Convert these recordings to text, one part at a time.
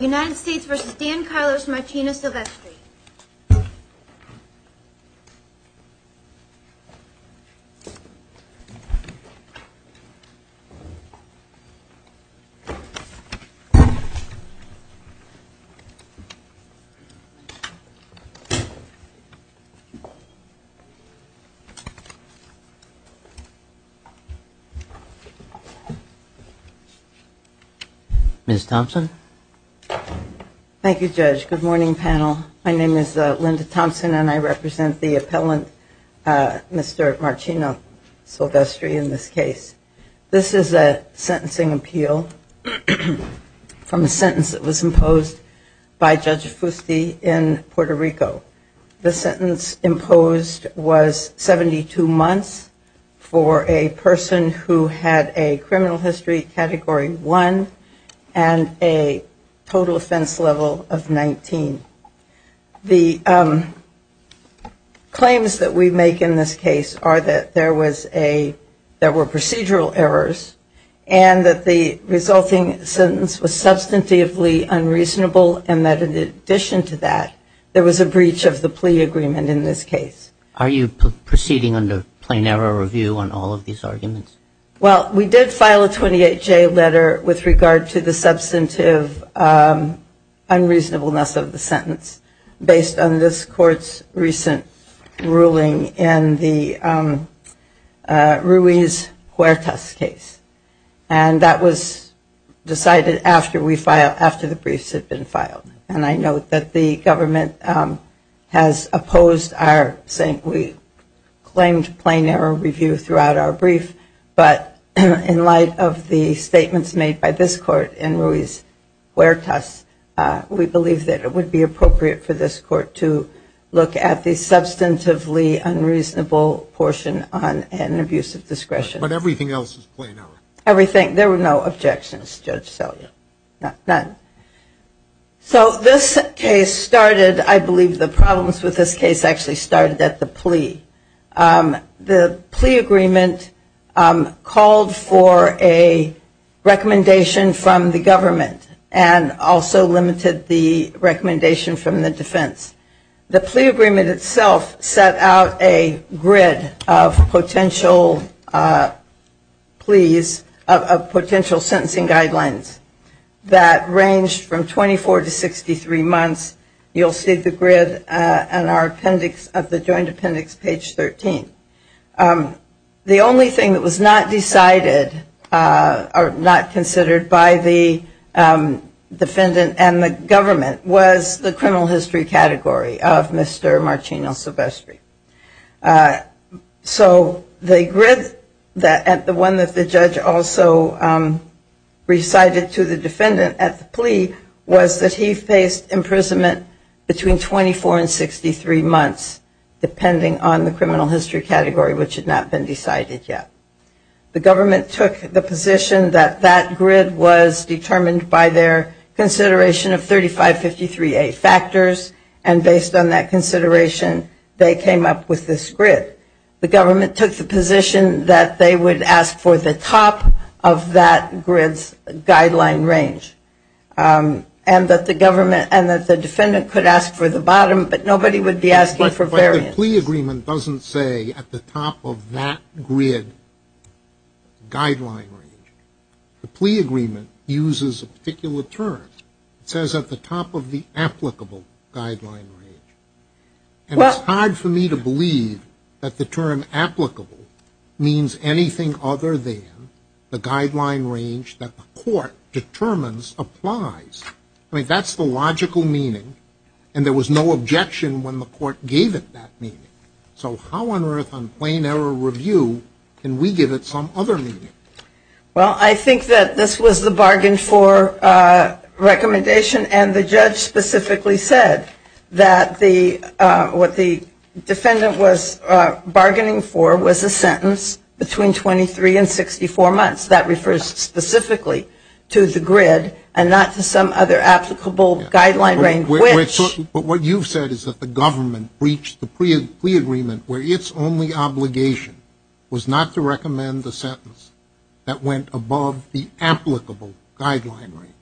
United States v. Dan Carlos Marchena-Silvestre Mrs. Thompson? Good morning, panel. My name is Linda Thompson, and I represent the appellant, Mr. Marcino Silvestri, in this case. This is a sentencing appeal from a sentence that was imposed by Judge Fusti in Puerto Rico. The sentence imposed was 72 months for a person who had a criminal history Category 1 and a total offense level of 19. The claims that we make in this case are that there were procedural errors and that the resulting sentence was substantively unreasonable and that in addition to that, there was a breach of the plea agreement in this case. Are you proceeding under plain error review on all of these arguments? Well, we did file a 28-J letter with regard to the substantive unreasonableness of the sentence based on this court's recent ruling in the Ruiz-Huertas case. And that was decided after the briefs had been filed. And I note that the government has opposed our saying we claimed plain error review throughout our brief, but in light of the statements made by this court in Ruiz-Huertas, we believe that it would be appropriate for this court to look at the substantively unreasonable portion on an abuse of discretion. But everything else is plain error? Everything. There were no objections, Judge Selye. None. So this case started, I believe the problems with this case actually started at the plea. The plea agreement called for a recommendation from the government and also limited the recommendation from the defense. The plea agreement itself set out a grid of potential pleas, of potential sentencing guidelines that ranged from 24 to 63 months. You'll see the grid in our appendix of the joint appendix, page 13. The only thing that was not decided or not considered by the defendant and the government was the criminal history category of Mr. Marcino Silvestri. So the grid, the one that the judge also recited to the defendant at the plea was that he faced imprisonment between 24 and 63 months, depending on the criminal history category, which had not been decided yet. The government took the position that that grid was determined by their consideration of 3553A factors. And based on that consideration, they came up with this grid. The government took the position that they would ask for the top of that grid's guideline range. And that the defendant could ask for the bottom, but nobody would be asking for variance. But the plea agreement doesn't say at the top of that grid guideline range. The plea agreement uses a particular term. It says at the top of the applicable guideline range. And it's hard for me to believe that the term applicable means anything other than the guideline range that the court determines applies. I mean, that's the logical meaning. And there was no objection when the court gave it that meaning. So how on earth on plain error review can we give it some other meaning? Well, I think that this was the bargain for recommendation. And the judge specifically said that what the defendant was bargaining for was a sentence between 23 and 64 months. That refers specifically to the grid and not to some other applicable guideline range. But what you've said is that the government breached the plea agreement where its only obligation was not to recommend the sentence that went above the applicable guideline range.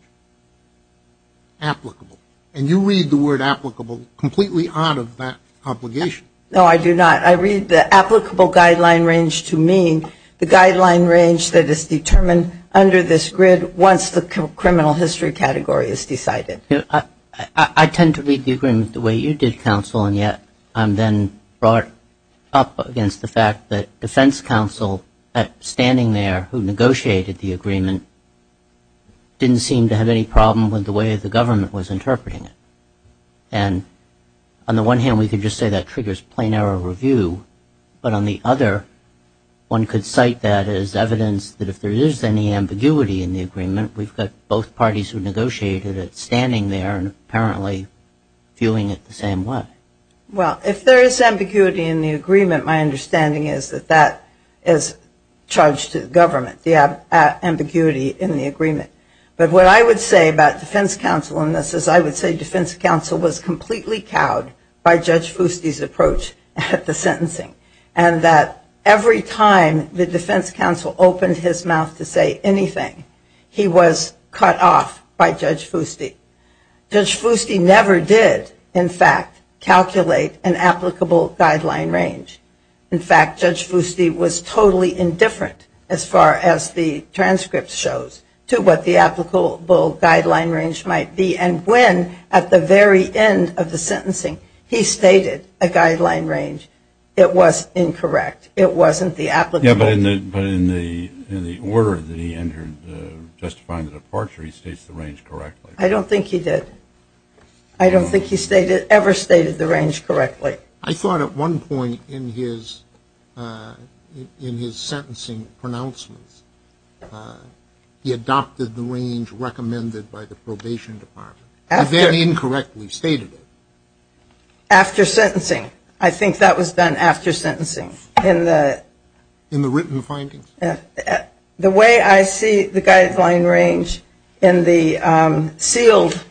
Applicable. And you read the word applicable completely out of that obligation. No, I do not. I read the applicable guideline range to mean the guideline range that is determined under this grid once the criminal history category is decided. I tend to read the agreement the way you did, counsel. And yet I'm then brought up against the fact that defense counsel standing there who negotiated the agreement didn't seem to have any problem with the way the government was interpreting it. And on the one hand, we could just say that triggers plain error review. But on the other, one could cite that as evidence that if there is any ambiguity in the agreement, we've got both parties who negotiated it standing there and apparently viewing it the same way. Well, if there is ambiguity in the agreement, my understanding is that that is charged to the government, the ambiguity in the agreement. But what I would say about defense counsel in this is I would say defense counsel was completely cowed by Judge Fusti's approach at the sentencing. And that every time the defense counsel opened his mouth to say anything, he was cut off by Judge Fusti. Judge Fusti never did, in fact, calculate an applicable guideline range. In fact, Judge Fusti was totally indifferent as far as the transcript shows to what the applicable guideline range might be. And when at the very end of the sentencing he stated a guideline range, it was incorrect. It wasn't the applicable. But in the order that he entered justifying the departure, he states the range correctly. I don't think he did. I don't think he ever stated the range correctly. I thought at one point in his sentencing pronouncements he adopted the range recommended by the probation department. He then incorrectly stated it. After sentencing. I think that was done after sentencing. In the written findings? The way I see the guideline range in the sealed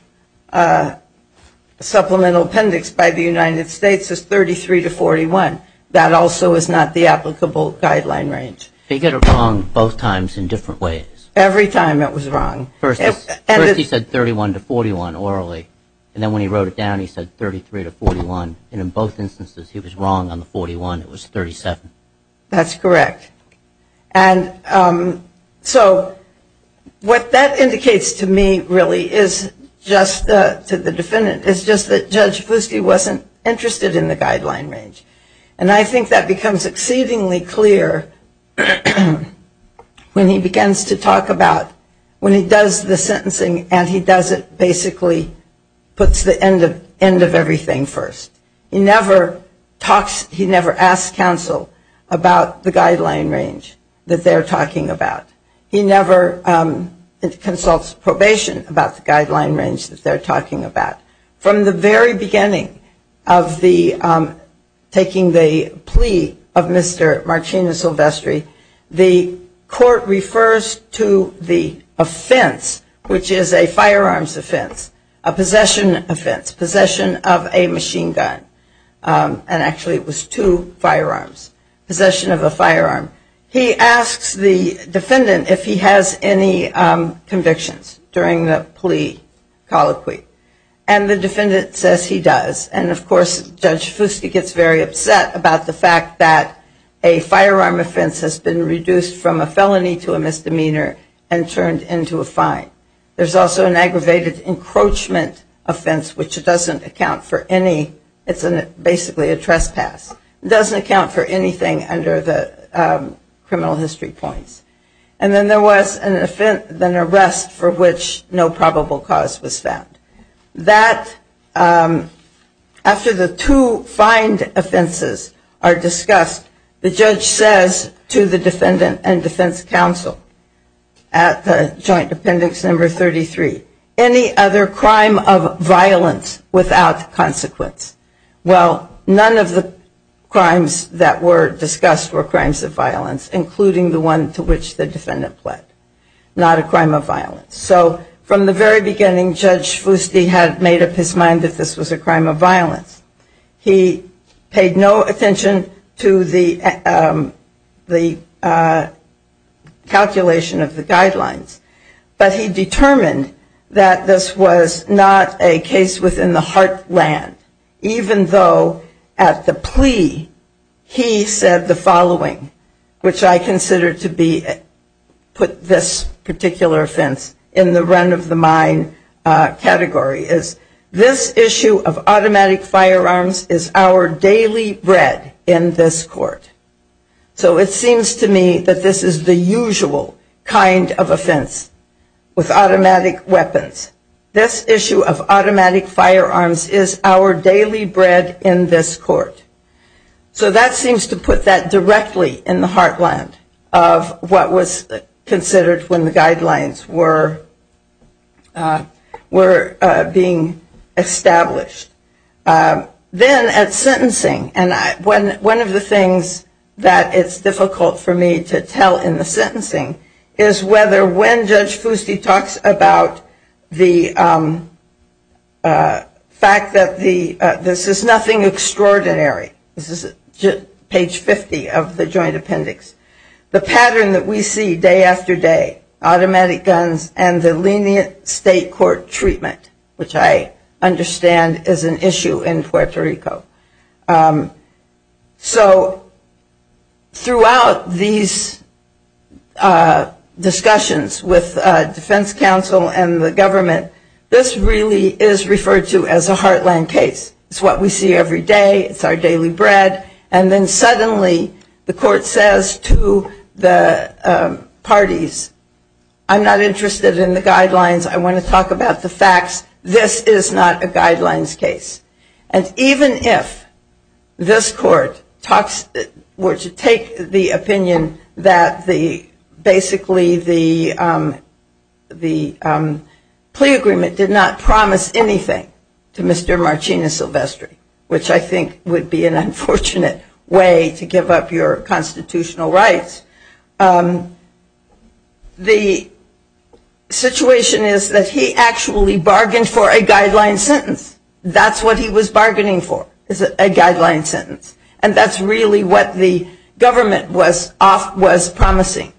supplemental appendix by the United States is 33 to 41. That also is not the applicable guideline range. He got it wrong both times in different ways. Every time it was wrong. First he said 31 to 41 orally. And then when he wrote it down he said 33 to 41. And in both instances he was wrong on the 41. It was 37. That's correct. And so what that indicates to me really is just to the defendant is just that Judge Fuske wasn't interested in the guideline range. And I think that becomes exceedingly clear when he begins to talk about when he does the sentencing and he does it basically puts the end of everything first. He never talks, he never asks counsel about the guideline range that they're talking about. He never consults probation about the guideline range that they're talking about. From the very beginning of the taking the plea of Mr. Martina Silvestri, the court refers to the offense which is a firearms offense, a possession offense, possession of a machine gun. And actually it was two firearms. Possession of a firearm. He asks the defendant if he has any convictions during the plea colloquy. And the defendant says he does. And of course Judge Fuske gets very upset about the fact that a firearm offense has been reduced from a felony to a misdemeanor and turned into a fine. There's also an aggravated encroachment offense which doesn't account for any, it's basically a trespass. It doesn't account for anything under the criminal history points. And then there was an arrest for which no probable cause was found. That, after the two fined offenses are discussed, the judge says to the defendant and defense counsel at the joint appendix number 33, any other crime of violence without consequence. Well, none of the crimes that were discussed were crimes of violence, including the one to which the defendant pled. Not a crime of violence. So from the very beginning, Judge Fuske had made up his mind that this was a crime of violence. He paid no attention to the calculation of the guidelines. But he determined that this was not a case within the heartland. Even though at the plea, he said the following, which I consider to be, put this particular offense in the run-of-the-mind category. This issue of automatic firearms is our daily bread in this court. So it seems to me that this is the usual kind of offense with automatic weapons. This issue of automatic firearms is our daily bread in this court. So that seems to put that directly in the heartland of what was considered when the guidelines were being established. Then at sentencing, and one of the things that it's difficult for me to tell in the sentencing, is whether when Judge Fuske talks about the fact that the, this is nothing extraordinary. This is page 50 of the joint appendix. The pattern that we see day after day, automatic guns and the lenient state court treatment, which I understand is an issue in Puerto Rico. So throughout these discussions with defense counsel and the government, this really is referred to as a heartland case. It's what we see every day. It's our daily bread. And then suddenly the court says to the parties, I'm not interested in the guidelines. I want to talk about the facts. This is not a guidelines case. And even if this court were to take the opinion that basically the plea agreement did not promise anything to Mr. Marchena Silvestri, which I think would be an unfortunate way to give up your constitutional rights, but the situation is that he actually bargained for a guideline sentence. That's what he was bargaining for, a guideline sentence. And that's really what the government was promising.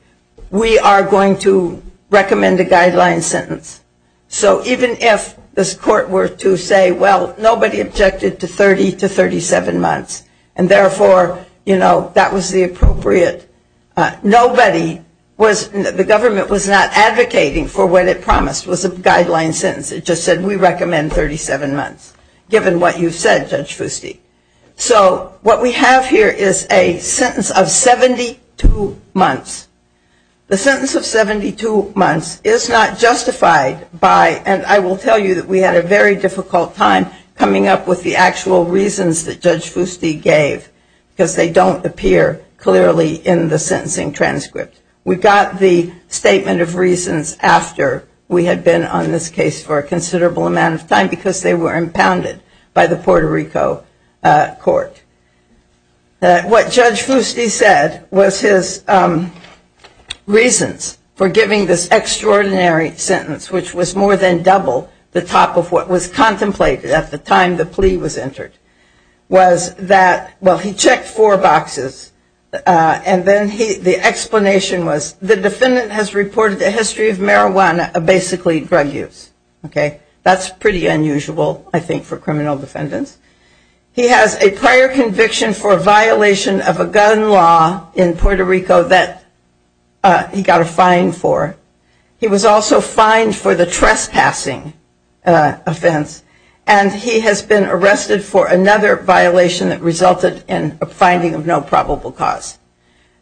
We are going to recommend a guideline sentence. So even if this court were to say, well, nobody objected to 30 to 37 months, and therefore, you know, that was the appropriate, nobody was, the government was not advocating for what it promised was a guideline sentence. It just said we recommend 37 months, given what you've said, Judge Fusti. So what we have here is a sentence of 72 months. The sentence of 72 months is not justified by, and I will tell you that we had a very difficult time coming up with the actual reasons that Judge Fusti gave, because they don't appear clearly in the sentencing transcript. We got the statement of reasons after we had been on this case for a considerable amount of time, because they were impounded by the Puerto Rico court. What Judge Fusti said was his reasons for giving this extraordinary sentence, which was more than double the top of what was contemplated at the time the plea was entered, was that, well, he checked four boxes, and then the explanation was, the defendant has reported a history of marijuana, basically drug use. That's pretty unusual, I think, for criminal defendants. He has a prior conviction for violation of a gun law in Puerto Rico that he got a fine for. He was also fined for the trespassing offense, and he has been arrested for another violation that resulted in a finding of no probable cause.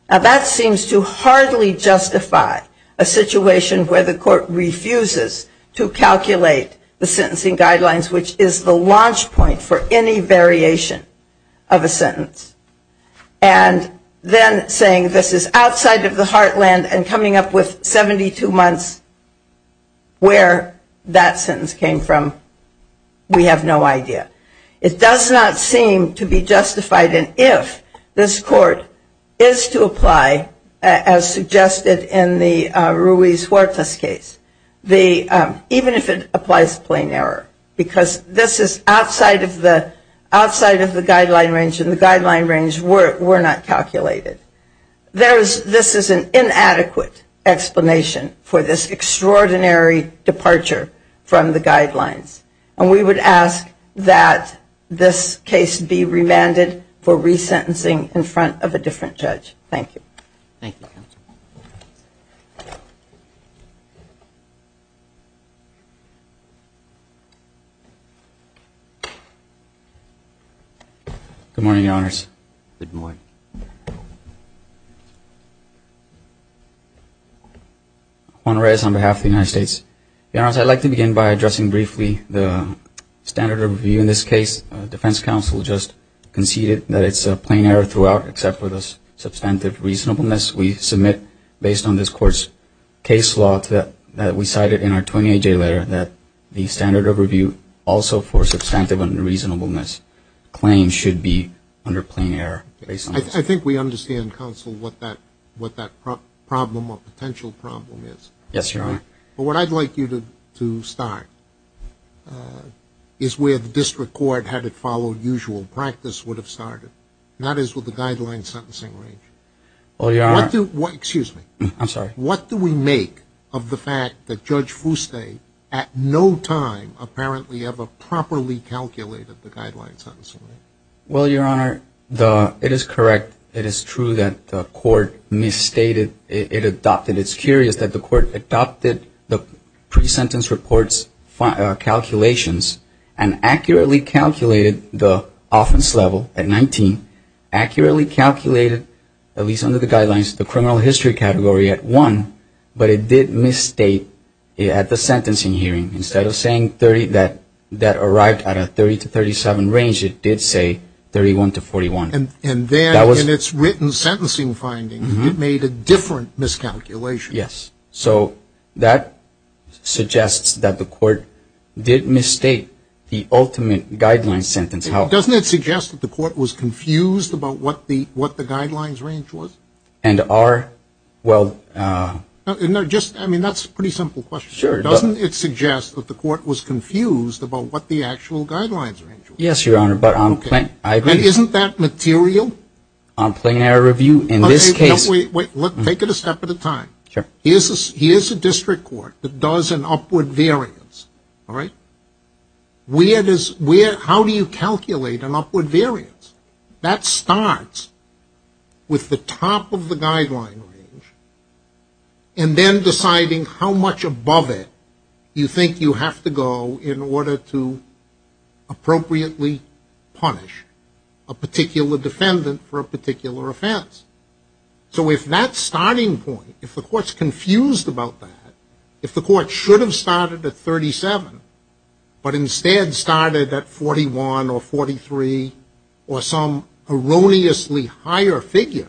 Now, that seems to hardly justify a situation where the court refuses to calculate the sentencing guidelines, which is the launch point for any variation of a sentence, and then saying this is outside of the heartland and coming up with 72 months where that sentence came from, we have no idea. It does not seem to be justified, and if this court is to apply, as suggested in the Ruiz Huertas case, even if it applies to plain error, because this is outside of the guideline range, and the guideline range were not calculated. This is an inadequate explanation for this extraordinary departure from the guidelines, and we would ask that this case be remanded for resentencing in front of a different judge. Thank you. Thank you, Your Honors. Juan Ruiz on behalf of the United States. Your Honors, I'd like to begin by addressing briefly the standard of review in this case. Defense counsel just conceded that it's a plain error throughout, except for the substantive reasonableness. We submit, based on this court's case law that we cited in our 28-J letter, that the standard of review also for substantive unreasonableness claims should be under plain error. I think we understand, counsel, what that problem or potential problem is. Yes, Your Honor. But what I'd like you to start is where the district court, had it followed usual practice, would have started, not as with the guideline sentencing range. What do we make of the fact that Judge Fuste at no time apparently ever properly calculated the guideline sentencing range? Well, Your Honor, it is correct. It is true that the court misstated. It adopted. It's curious that the court adopted the pre-sentence reports calculations and accurately calculated the offense level at 19, accurately calculated, at least under the guidelines, the criminal history category at 1, but it did misstate at the sentencing hearing. Instead of saying 30, that arrived at a 30 to 37 range, it did say 31 to 41. And then in its written sentencing findings, it made a different miscalculation. Yes. So that suggests that the court did misstate the ultimate guideline sentence. Doesn't it suggest that the court was confused about what the guidelines range was? And are, well... I mean, that's a pretty simple question. Doesn't it suggest that the court was confused about what the actual guidelines range was? Yes, Your Honor, but on plain... Isn't that material? On plain error review, in this case... Wait, wait. Take it a step at a time. Here's a district court that does an upward variance, all right? How do you calculate an upward variance? That starts with the top of the guideline range and then deciding how much above it you think you have to go in order to appropriately punish a particular defendant for a particular offense. So if that starting point, if the court's confused about that, if the court should have started at 37 but instead started at 41 or 43 or some erroneously higher figure,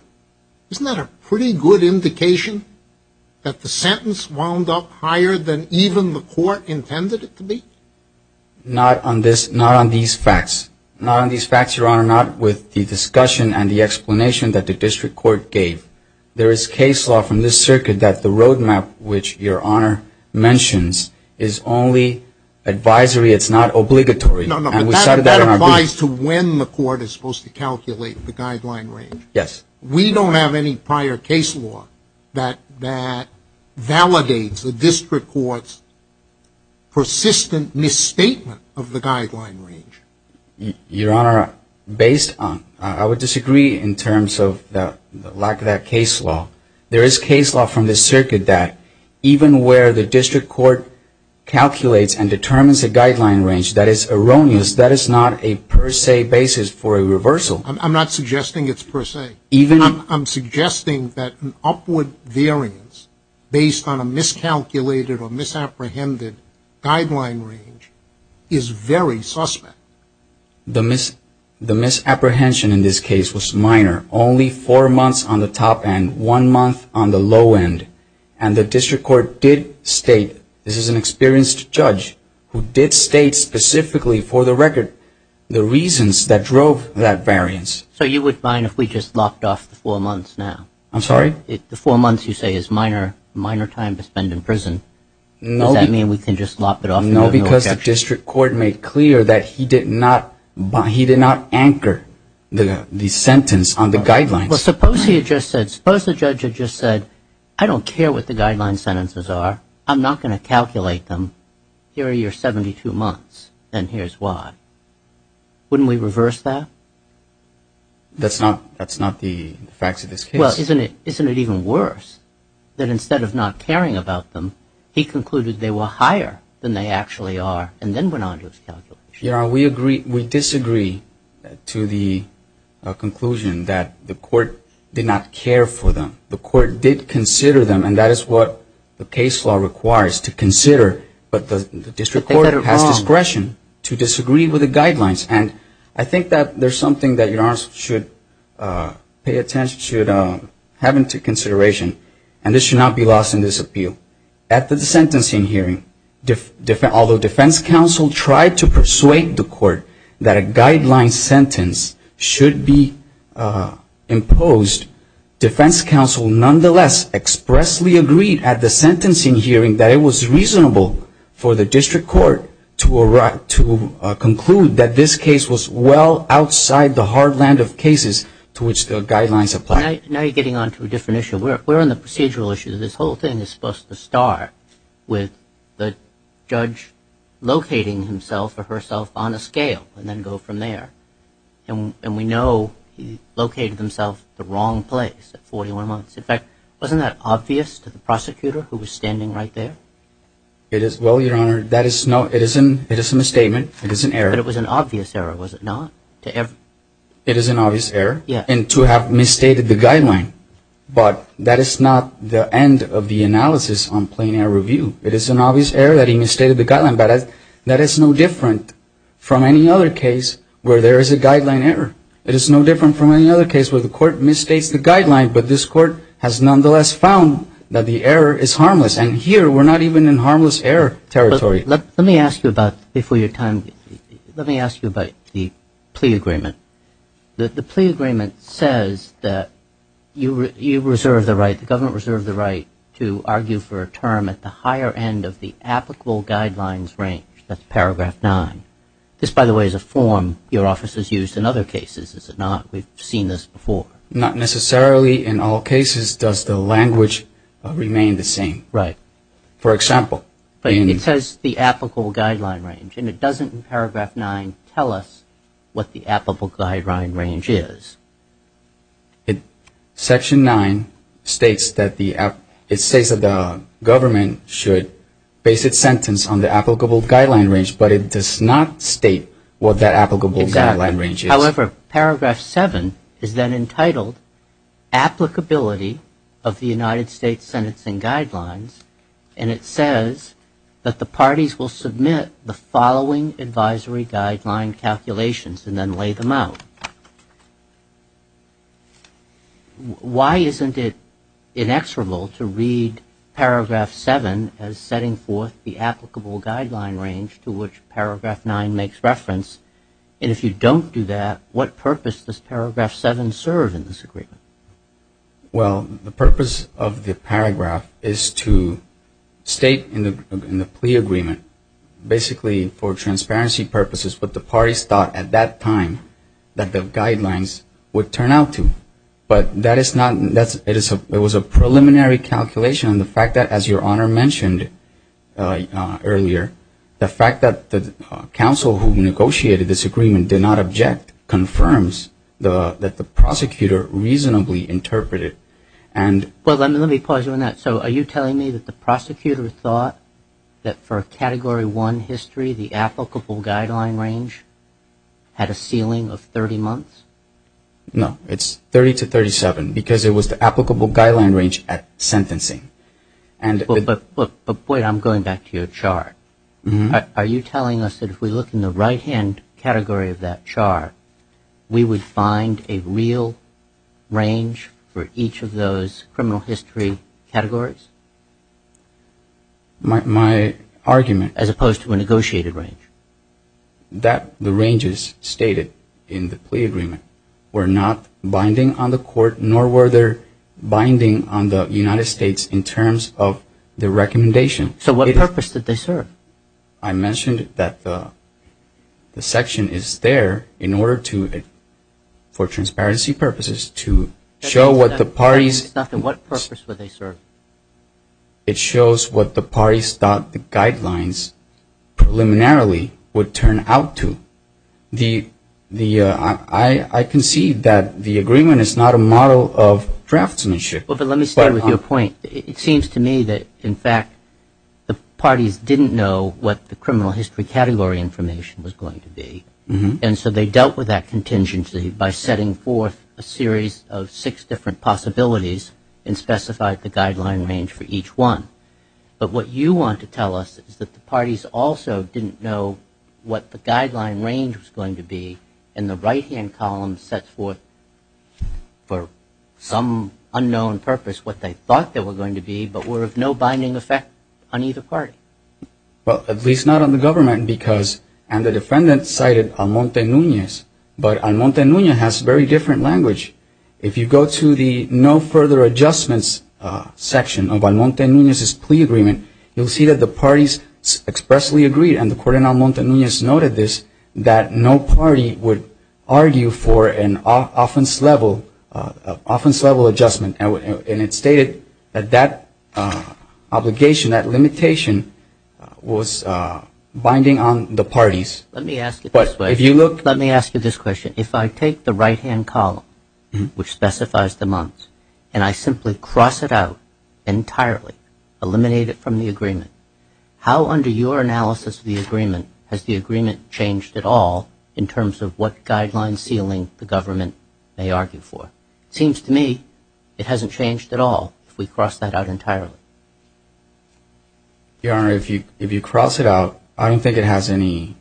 isn't that a pretty good indication that the sentence wound up higher than even the court intended it to be? Not on these facts, Your Honor. Not with the discussion and the explanation that the district court gave. There is case law from this circuit that the roadmap, which Your Honor mentions, is only advisory. It's not obligatory. No, no, but that applies to when the court is supposed to calculate the guideline range. Yes. We don't have any prior case law that validates the district court's persistent misstatement of the guideline range. Your Honor, based on... I would disagree in terms of the lack of that case law. There is case law from this circuit that even where the district court calculates and determines a guideline range that is erroneous, that is not a per se basis for a reversal. I'm not suggesting it's per se. I'm suggesting that an upward variance based on a miscalculated or misapprehended guideline range is very suspect. The misapprehension in this case was minor, only four months on the top end, one month on the low end, and the district court did state, this is an experienced judge who did state specifically for the record, the reasons that drove that variance. So you would mind if we just lopped off the four months now? I'm sorry? The four months you say is minor time to spend in prison. Does that mean we can just lop it off? No, because the district court made clear that he did not anchor the sentence on the guidelines. Well, suppose he had just said, suppose the judge had just said, I don't care what the guideline sentences are, I'm not going to calculate them, here are your 72 months, and here's why. Wouldn't we reverse that? That's not the facts of this case. Well, isn't it even worse that instead of not caring about them, he concluded they were higher than they actually are and then went on to his calculation? We disagree to the conclusion that the court did not care for them. The court did consider them, and that is what the case law requires, to consider, but the district court has discretion to disagree with the guidelines. And I think that there's something that your Honor should pay attention to, have into consideration, and this should not be lost in this appeal. At the sentencing hearing, although defense counsel tried to persuade the court that a guideline sentence should be imposed, defense counsel nonetheless expressly agreed at the sentencing hearing that it was reasonable for the district court to conclude that this case was well outside the hard land of cases to which the guidelines apply. Now you're getting on to a different issue. We're on the procedural issue. This whole thing is supposed to start with the judge locating himself or herself on a scale and then go from there. And we know he located himself at the wrong place at 41 months. In fact, wasn't that obvious to the prosecutor who was standing right there? Well, your Honor, it is a misstatement. It is an error. But it was an obvious error, was it not? It is an obvious error. And to have misstated the guideline, but that is not the end of the analysis on plain error review. It is an obvious error that he misstated the guideline, but that is no different from any other case where there is a guideline error. It is no different from any other case where the court misstates the guideline, but this court has nonetheless found that the error is harmless. And here we're not even in harmless error territory. Let me ask you about, before your time, let me ask you about the plea agreement. The plea agreement says that you reserve the right, the government reserved the right, to argue for a term at the higher end of the applicable guidelines range, that's paragraph 9. This, by the way, is a form your office has used in other cases, is it not? We've seen this before. Not necessarily in all cases does the language remain the same. Right. For example. It says the applicable guideline range, and it doesn't in paragraph 9 tell us what the applicable guideline range is. Section 9 states that the government should base its sentence on the applicable guideline range, but it does not state what that applicable guideline range is. Exactly. However, paragraph 7 is then entitled applicability of the United States sentencing guidelines, and it says that the parties will submit the following advisory guideline calculations and then lay them out. Why isn't it inexorable to read paragraph 7 as setting forth the applicable guideline range to which paragraph 9 makes reference, and if you don't do that, what purpose does paragraph 7 serve in this agreement? Well, the purpose of the paragraph is to state in the plea agreement, basically for transparency purposes, what the parties thought at that time that the guidelines would turn out to. But that is not, it was a preliminary calculation. The fact that, as your Honor mentioned earlier, the fact that the counsel who negotiated this agreement did not object confirms that the prosecutor reasonably interpreted. Well, let me pause you on that. So are you telling me that the prosecutor thought that for a Category 1 history, the applicable guideline range had a ceiling of 30 months? No, it's 30 to 37 because it was the applicable guideline range at sentencing. But wait, I'm going back to your chart. Are you telling us that if we look in the right-hand category of that chart, we would find a real range for each of those criminal history categories? My argument... As opposed to a negotiated range? That the ranges stated in the plea agreement were not binding on the court, nor were they binding on the United States in terms of the recommendation. So what purpose did they serve? I mentioned that the section is there in order to, for transparency purposes, to show what the parties... It's not for what purpose would they serve. It shows what the parties thought the guidelines preliminarily would turn out to. I concede that the agreement is not a model of draftsmanship. But let me stay with your point. It seems to me that, in fact, the parties didn't know what the criminal history category information was going to be. And so they dealt with that contingency by setting forth a series of six different possibilities and specified the guideline range for each one. But what you want to tell us is that the parties also didn't know what the guideline range was going to be, and the right-hand column sets forth, for some unknown purpose, what they thought they were going to be, but were of no binding effect on either party. Well, at least not on the government, because... And the defendant cited Almonte-Nunez, but Almonte-Nunez has very different language. If you go to the no further adjustments section of Almonte-Nunez's plea agreement, you'll see that the parties expressly agreed, and the court in Almonte-Nunez noted this, that no party would argue for an offense-level adjustment. And it stated that that obligation, that limitation, was binding on the parties. Let me ask you this question. If I take the right-hand column, which specifies the months, and I simply cross it out entirely, eliminate it from the agreement, how, under your analysis of the agreement, has the agreement changed at all, in terms of what guideline ceiling the government may argue for? It seems to me it hasn't changed at all, if we cross that out entirely. Your Honor, if you cross it out, I don't think it has any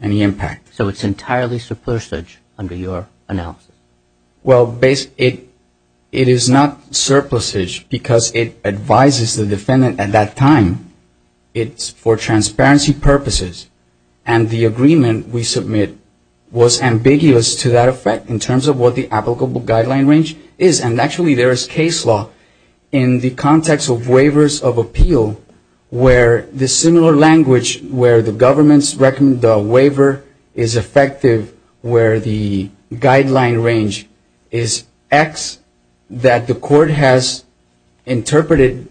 impact. So it's entirely surplusage under your analysis. Well, it is not surplusage, because it advises the defendant at that time. It's for transparency purposes. And the agreement we submit was ambiguous to that effect, in terms of what the applicable guideline range is. And actually, there is case law in the context of waivers of appeal, where the similar language, where the government's waiver is effective, where the guideline range is X, that the court has interpreted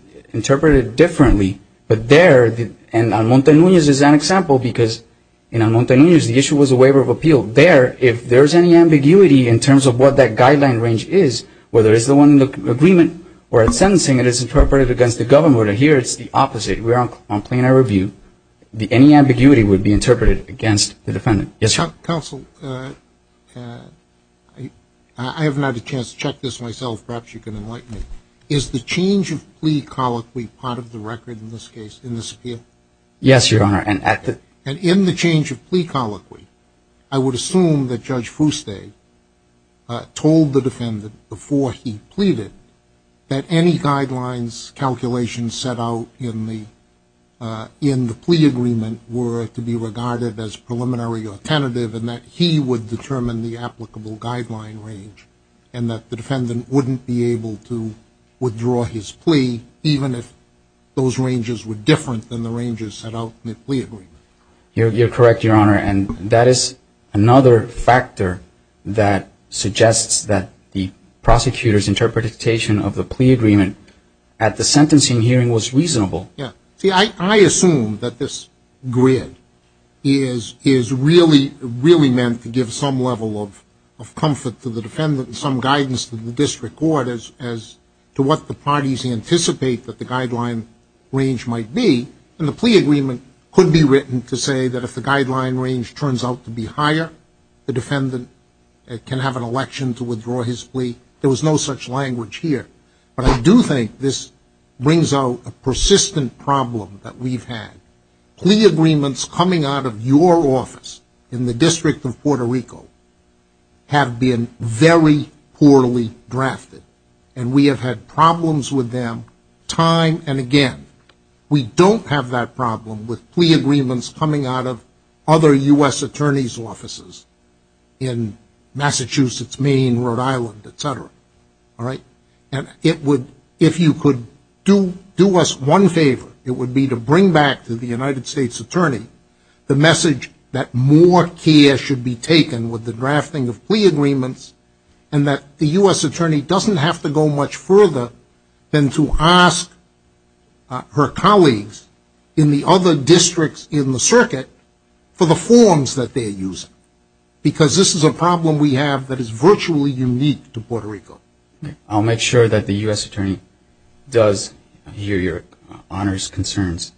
differently. But there, and Almonte-Nunez is an example, because in Almonte-Nunez, the issue was a waiver of appeal. There, if there is any ambiguity in terms of what that guideline range is, whether it's the one in the agreement, or in sentencing, it is interpreted against the government. Your Honor, here it's the opposite. We're on plenary review. Any ambiguity would be interpreted against the defendant. Yes, Your Honor. Counsel, I have not had a chance to check this myself. Perhaps you can enlighten me. Is the change of plea colloquy part of the record in this case, in this appeal? Yes, Your Honor. And in the change of plea colloquy, I would assume that Judge Fuste told the defendant before he pleaded that any guidelines calculations set out in the plea agreement were to be regarded as preliminary or tentative, and that he would determine the applicable guideline range, and that the defendant wouldn't be able to withdraw his plea, even if those ranges were different than the ranges set out in the plea agreement. You're correct, Your Honor. And that is another factor that suggests that the prosecutor's interpretation of the plea agreement at the sentencing hearing was reasonable. Yes. See, I assume that this grid is really meant to give some level of comfort to the defendant and some guidance to the district court as to what the parties anticipate that the guideline range might be. And the plea agreement could be written to say that if the guideline range turns out to be higher, the defendant can have an election to withdraw his plea. There was no such language here. But I do think this brings out a persistent problem that we've had. Plea agreements coming out of your office in the District of Puerto Rico have been very poorly drafted, and we have had problems with them time and again. We don't have that problem with plea agreements coming out of other U.S. attorneys' offices in Massachusetts, Maine, Rhode Island, et cetera. All right? And if you could do us one favor, it would be to bring back to the United States attorney the message that more care should be taken with the drafting of plea agreements, and that the U.S. attorney doesn't have to go much further than to ask her colleagues in the other districts in the circuit for the forms that they're using, because this is a problem we have that is virtually unique to Puerto Rico. I'll make sure that the U.S. attorney does hear your honors concerns.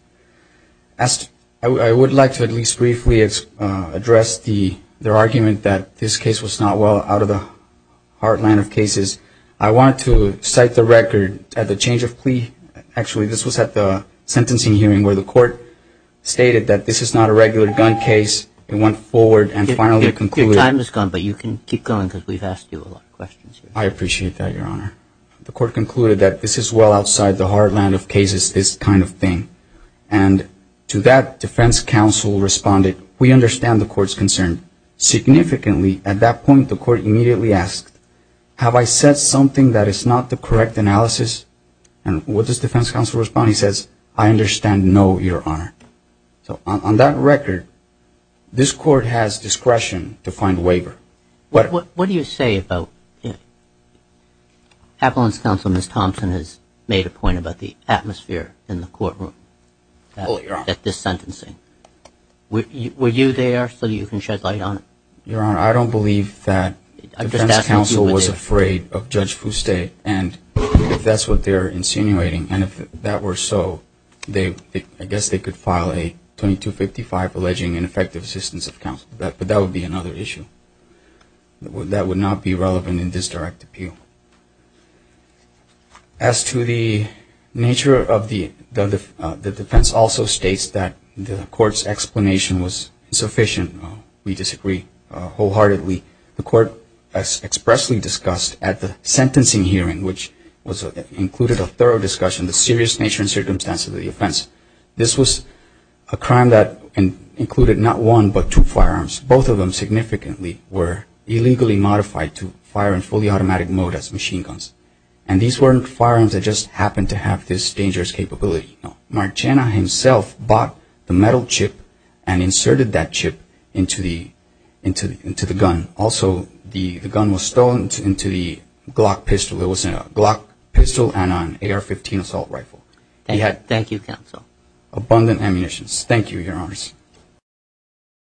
I would like to at least briefly address their argument that this case was not well out of the heartland of cases. I want to cite the record at the change of plea. Actually, this was at the sentencing hearing where the court stated that this is not a regular gun case. It went forward and finally concluded. Your time is gone, but you can keep going because we've asked you a lot of questions. I appreciate that, your honor. The court concluded that this is well outside the heartland of cases, this kind of thing. And to that, defense counsel responded, we understand the court's concern. Significantly, at that point, the court immediately asked, have I said something that is not the correct analysis? And what does defense counsel respond? He says, I understand no, your honor. So on that record, this court has discretion to find waiver. What do you say about, Appellant's counsel, Ms. Thompson, has made a point about the atmosphere in the courtroom at this sentencing. Were you there so you can shed light on it? Your honor, I don't believe that defense counsel was afraid of Judge Fuste. And if that's what they're insinuating, and if that were so, I guess they could file a 2255 alleging ineffective assistance of counsel. But that would be another issue. That would not be relevant in this direct appeal. As to the nature of the defense, also states that the court's explanation was insufficient. We disagree wholeheartedly. The court expressly discussed at the sentencing hearing, which included a thorough discussion, the serious nature and circumstance of the offense. This was a crime that included not one, but two firearms. Both of them significantly were illegally modified to fire in fully automatic mode as machine guns. And these weren't firearms that just happened to have this dangerous capability. Marcena himself bought the metal chip and inserted that chip into the gun. Also, the gun was stolen into the Glock pistol. It was a Glock pistol and an AR-15 assault rifle. Thank you, counsel. Abundant ammunition. Thank you, Your Honors.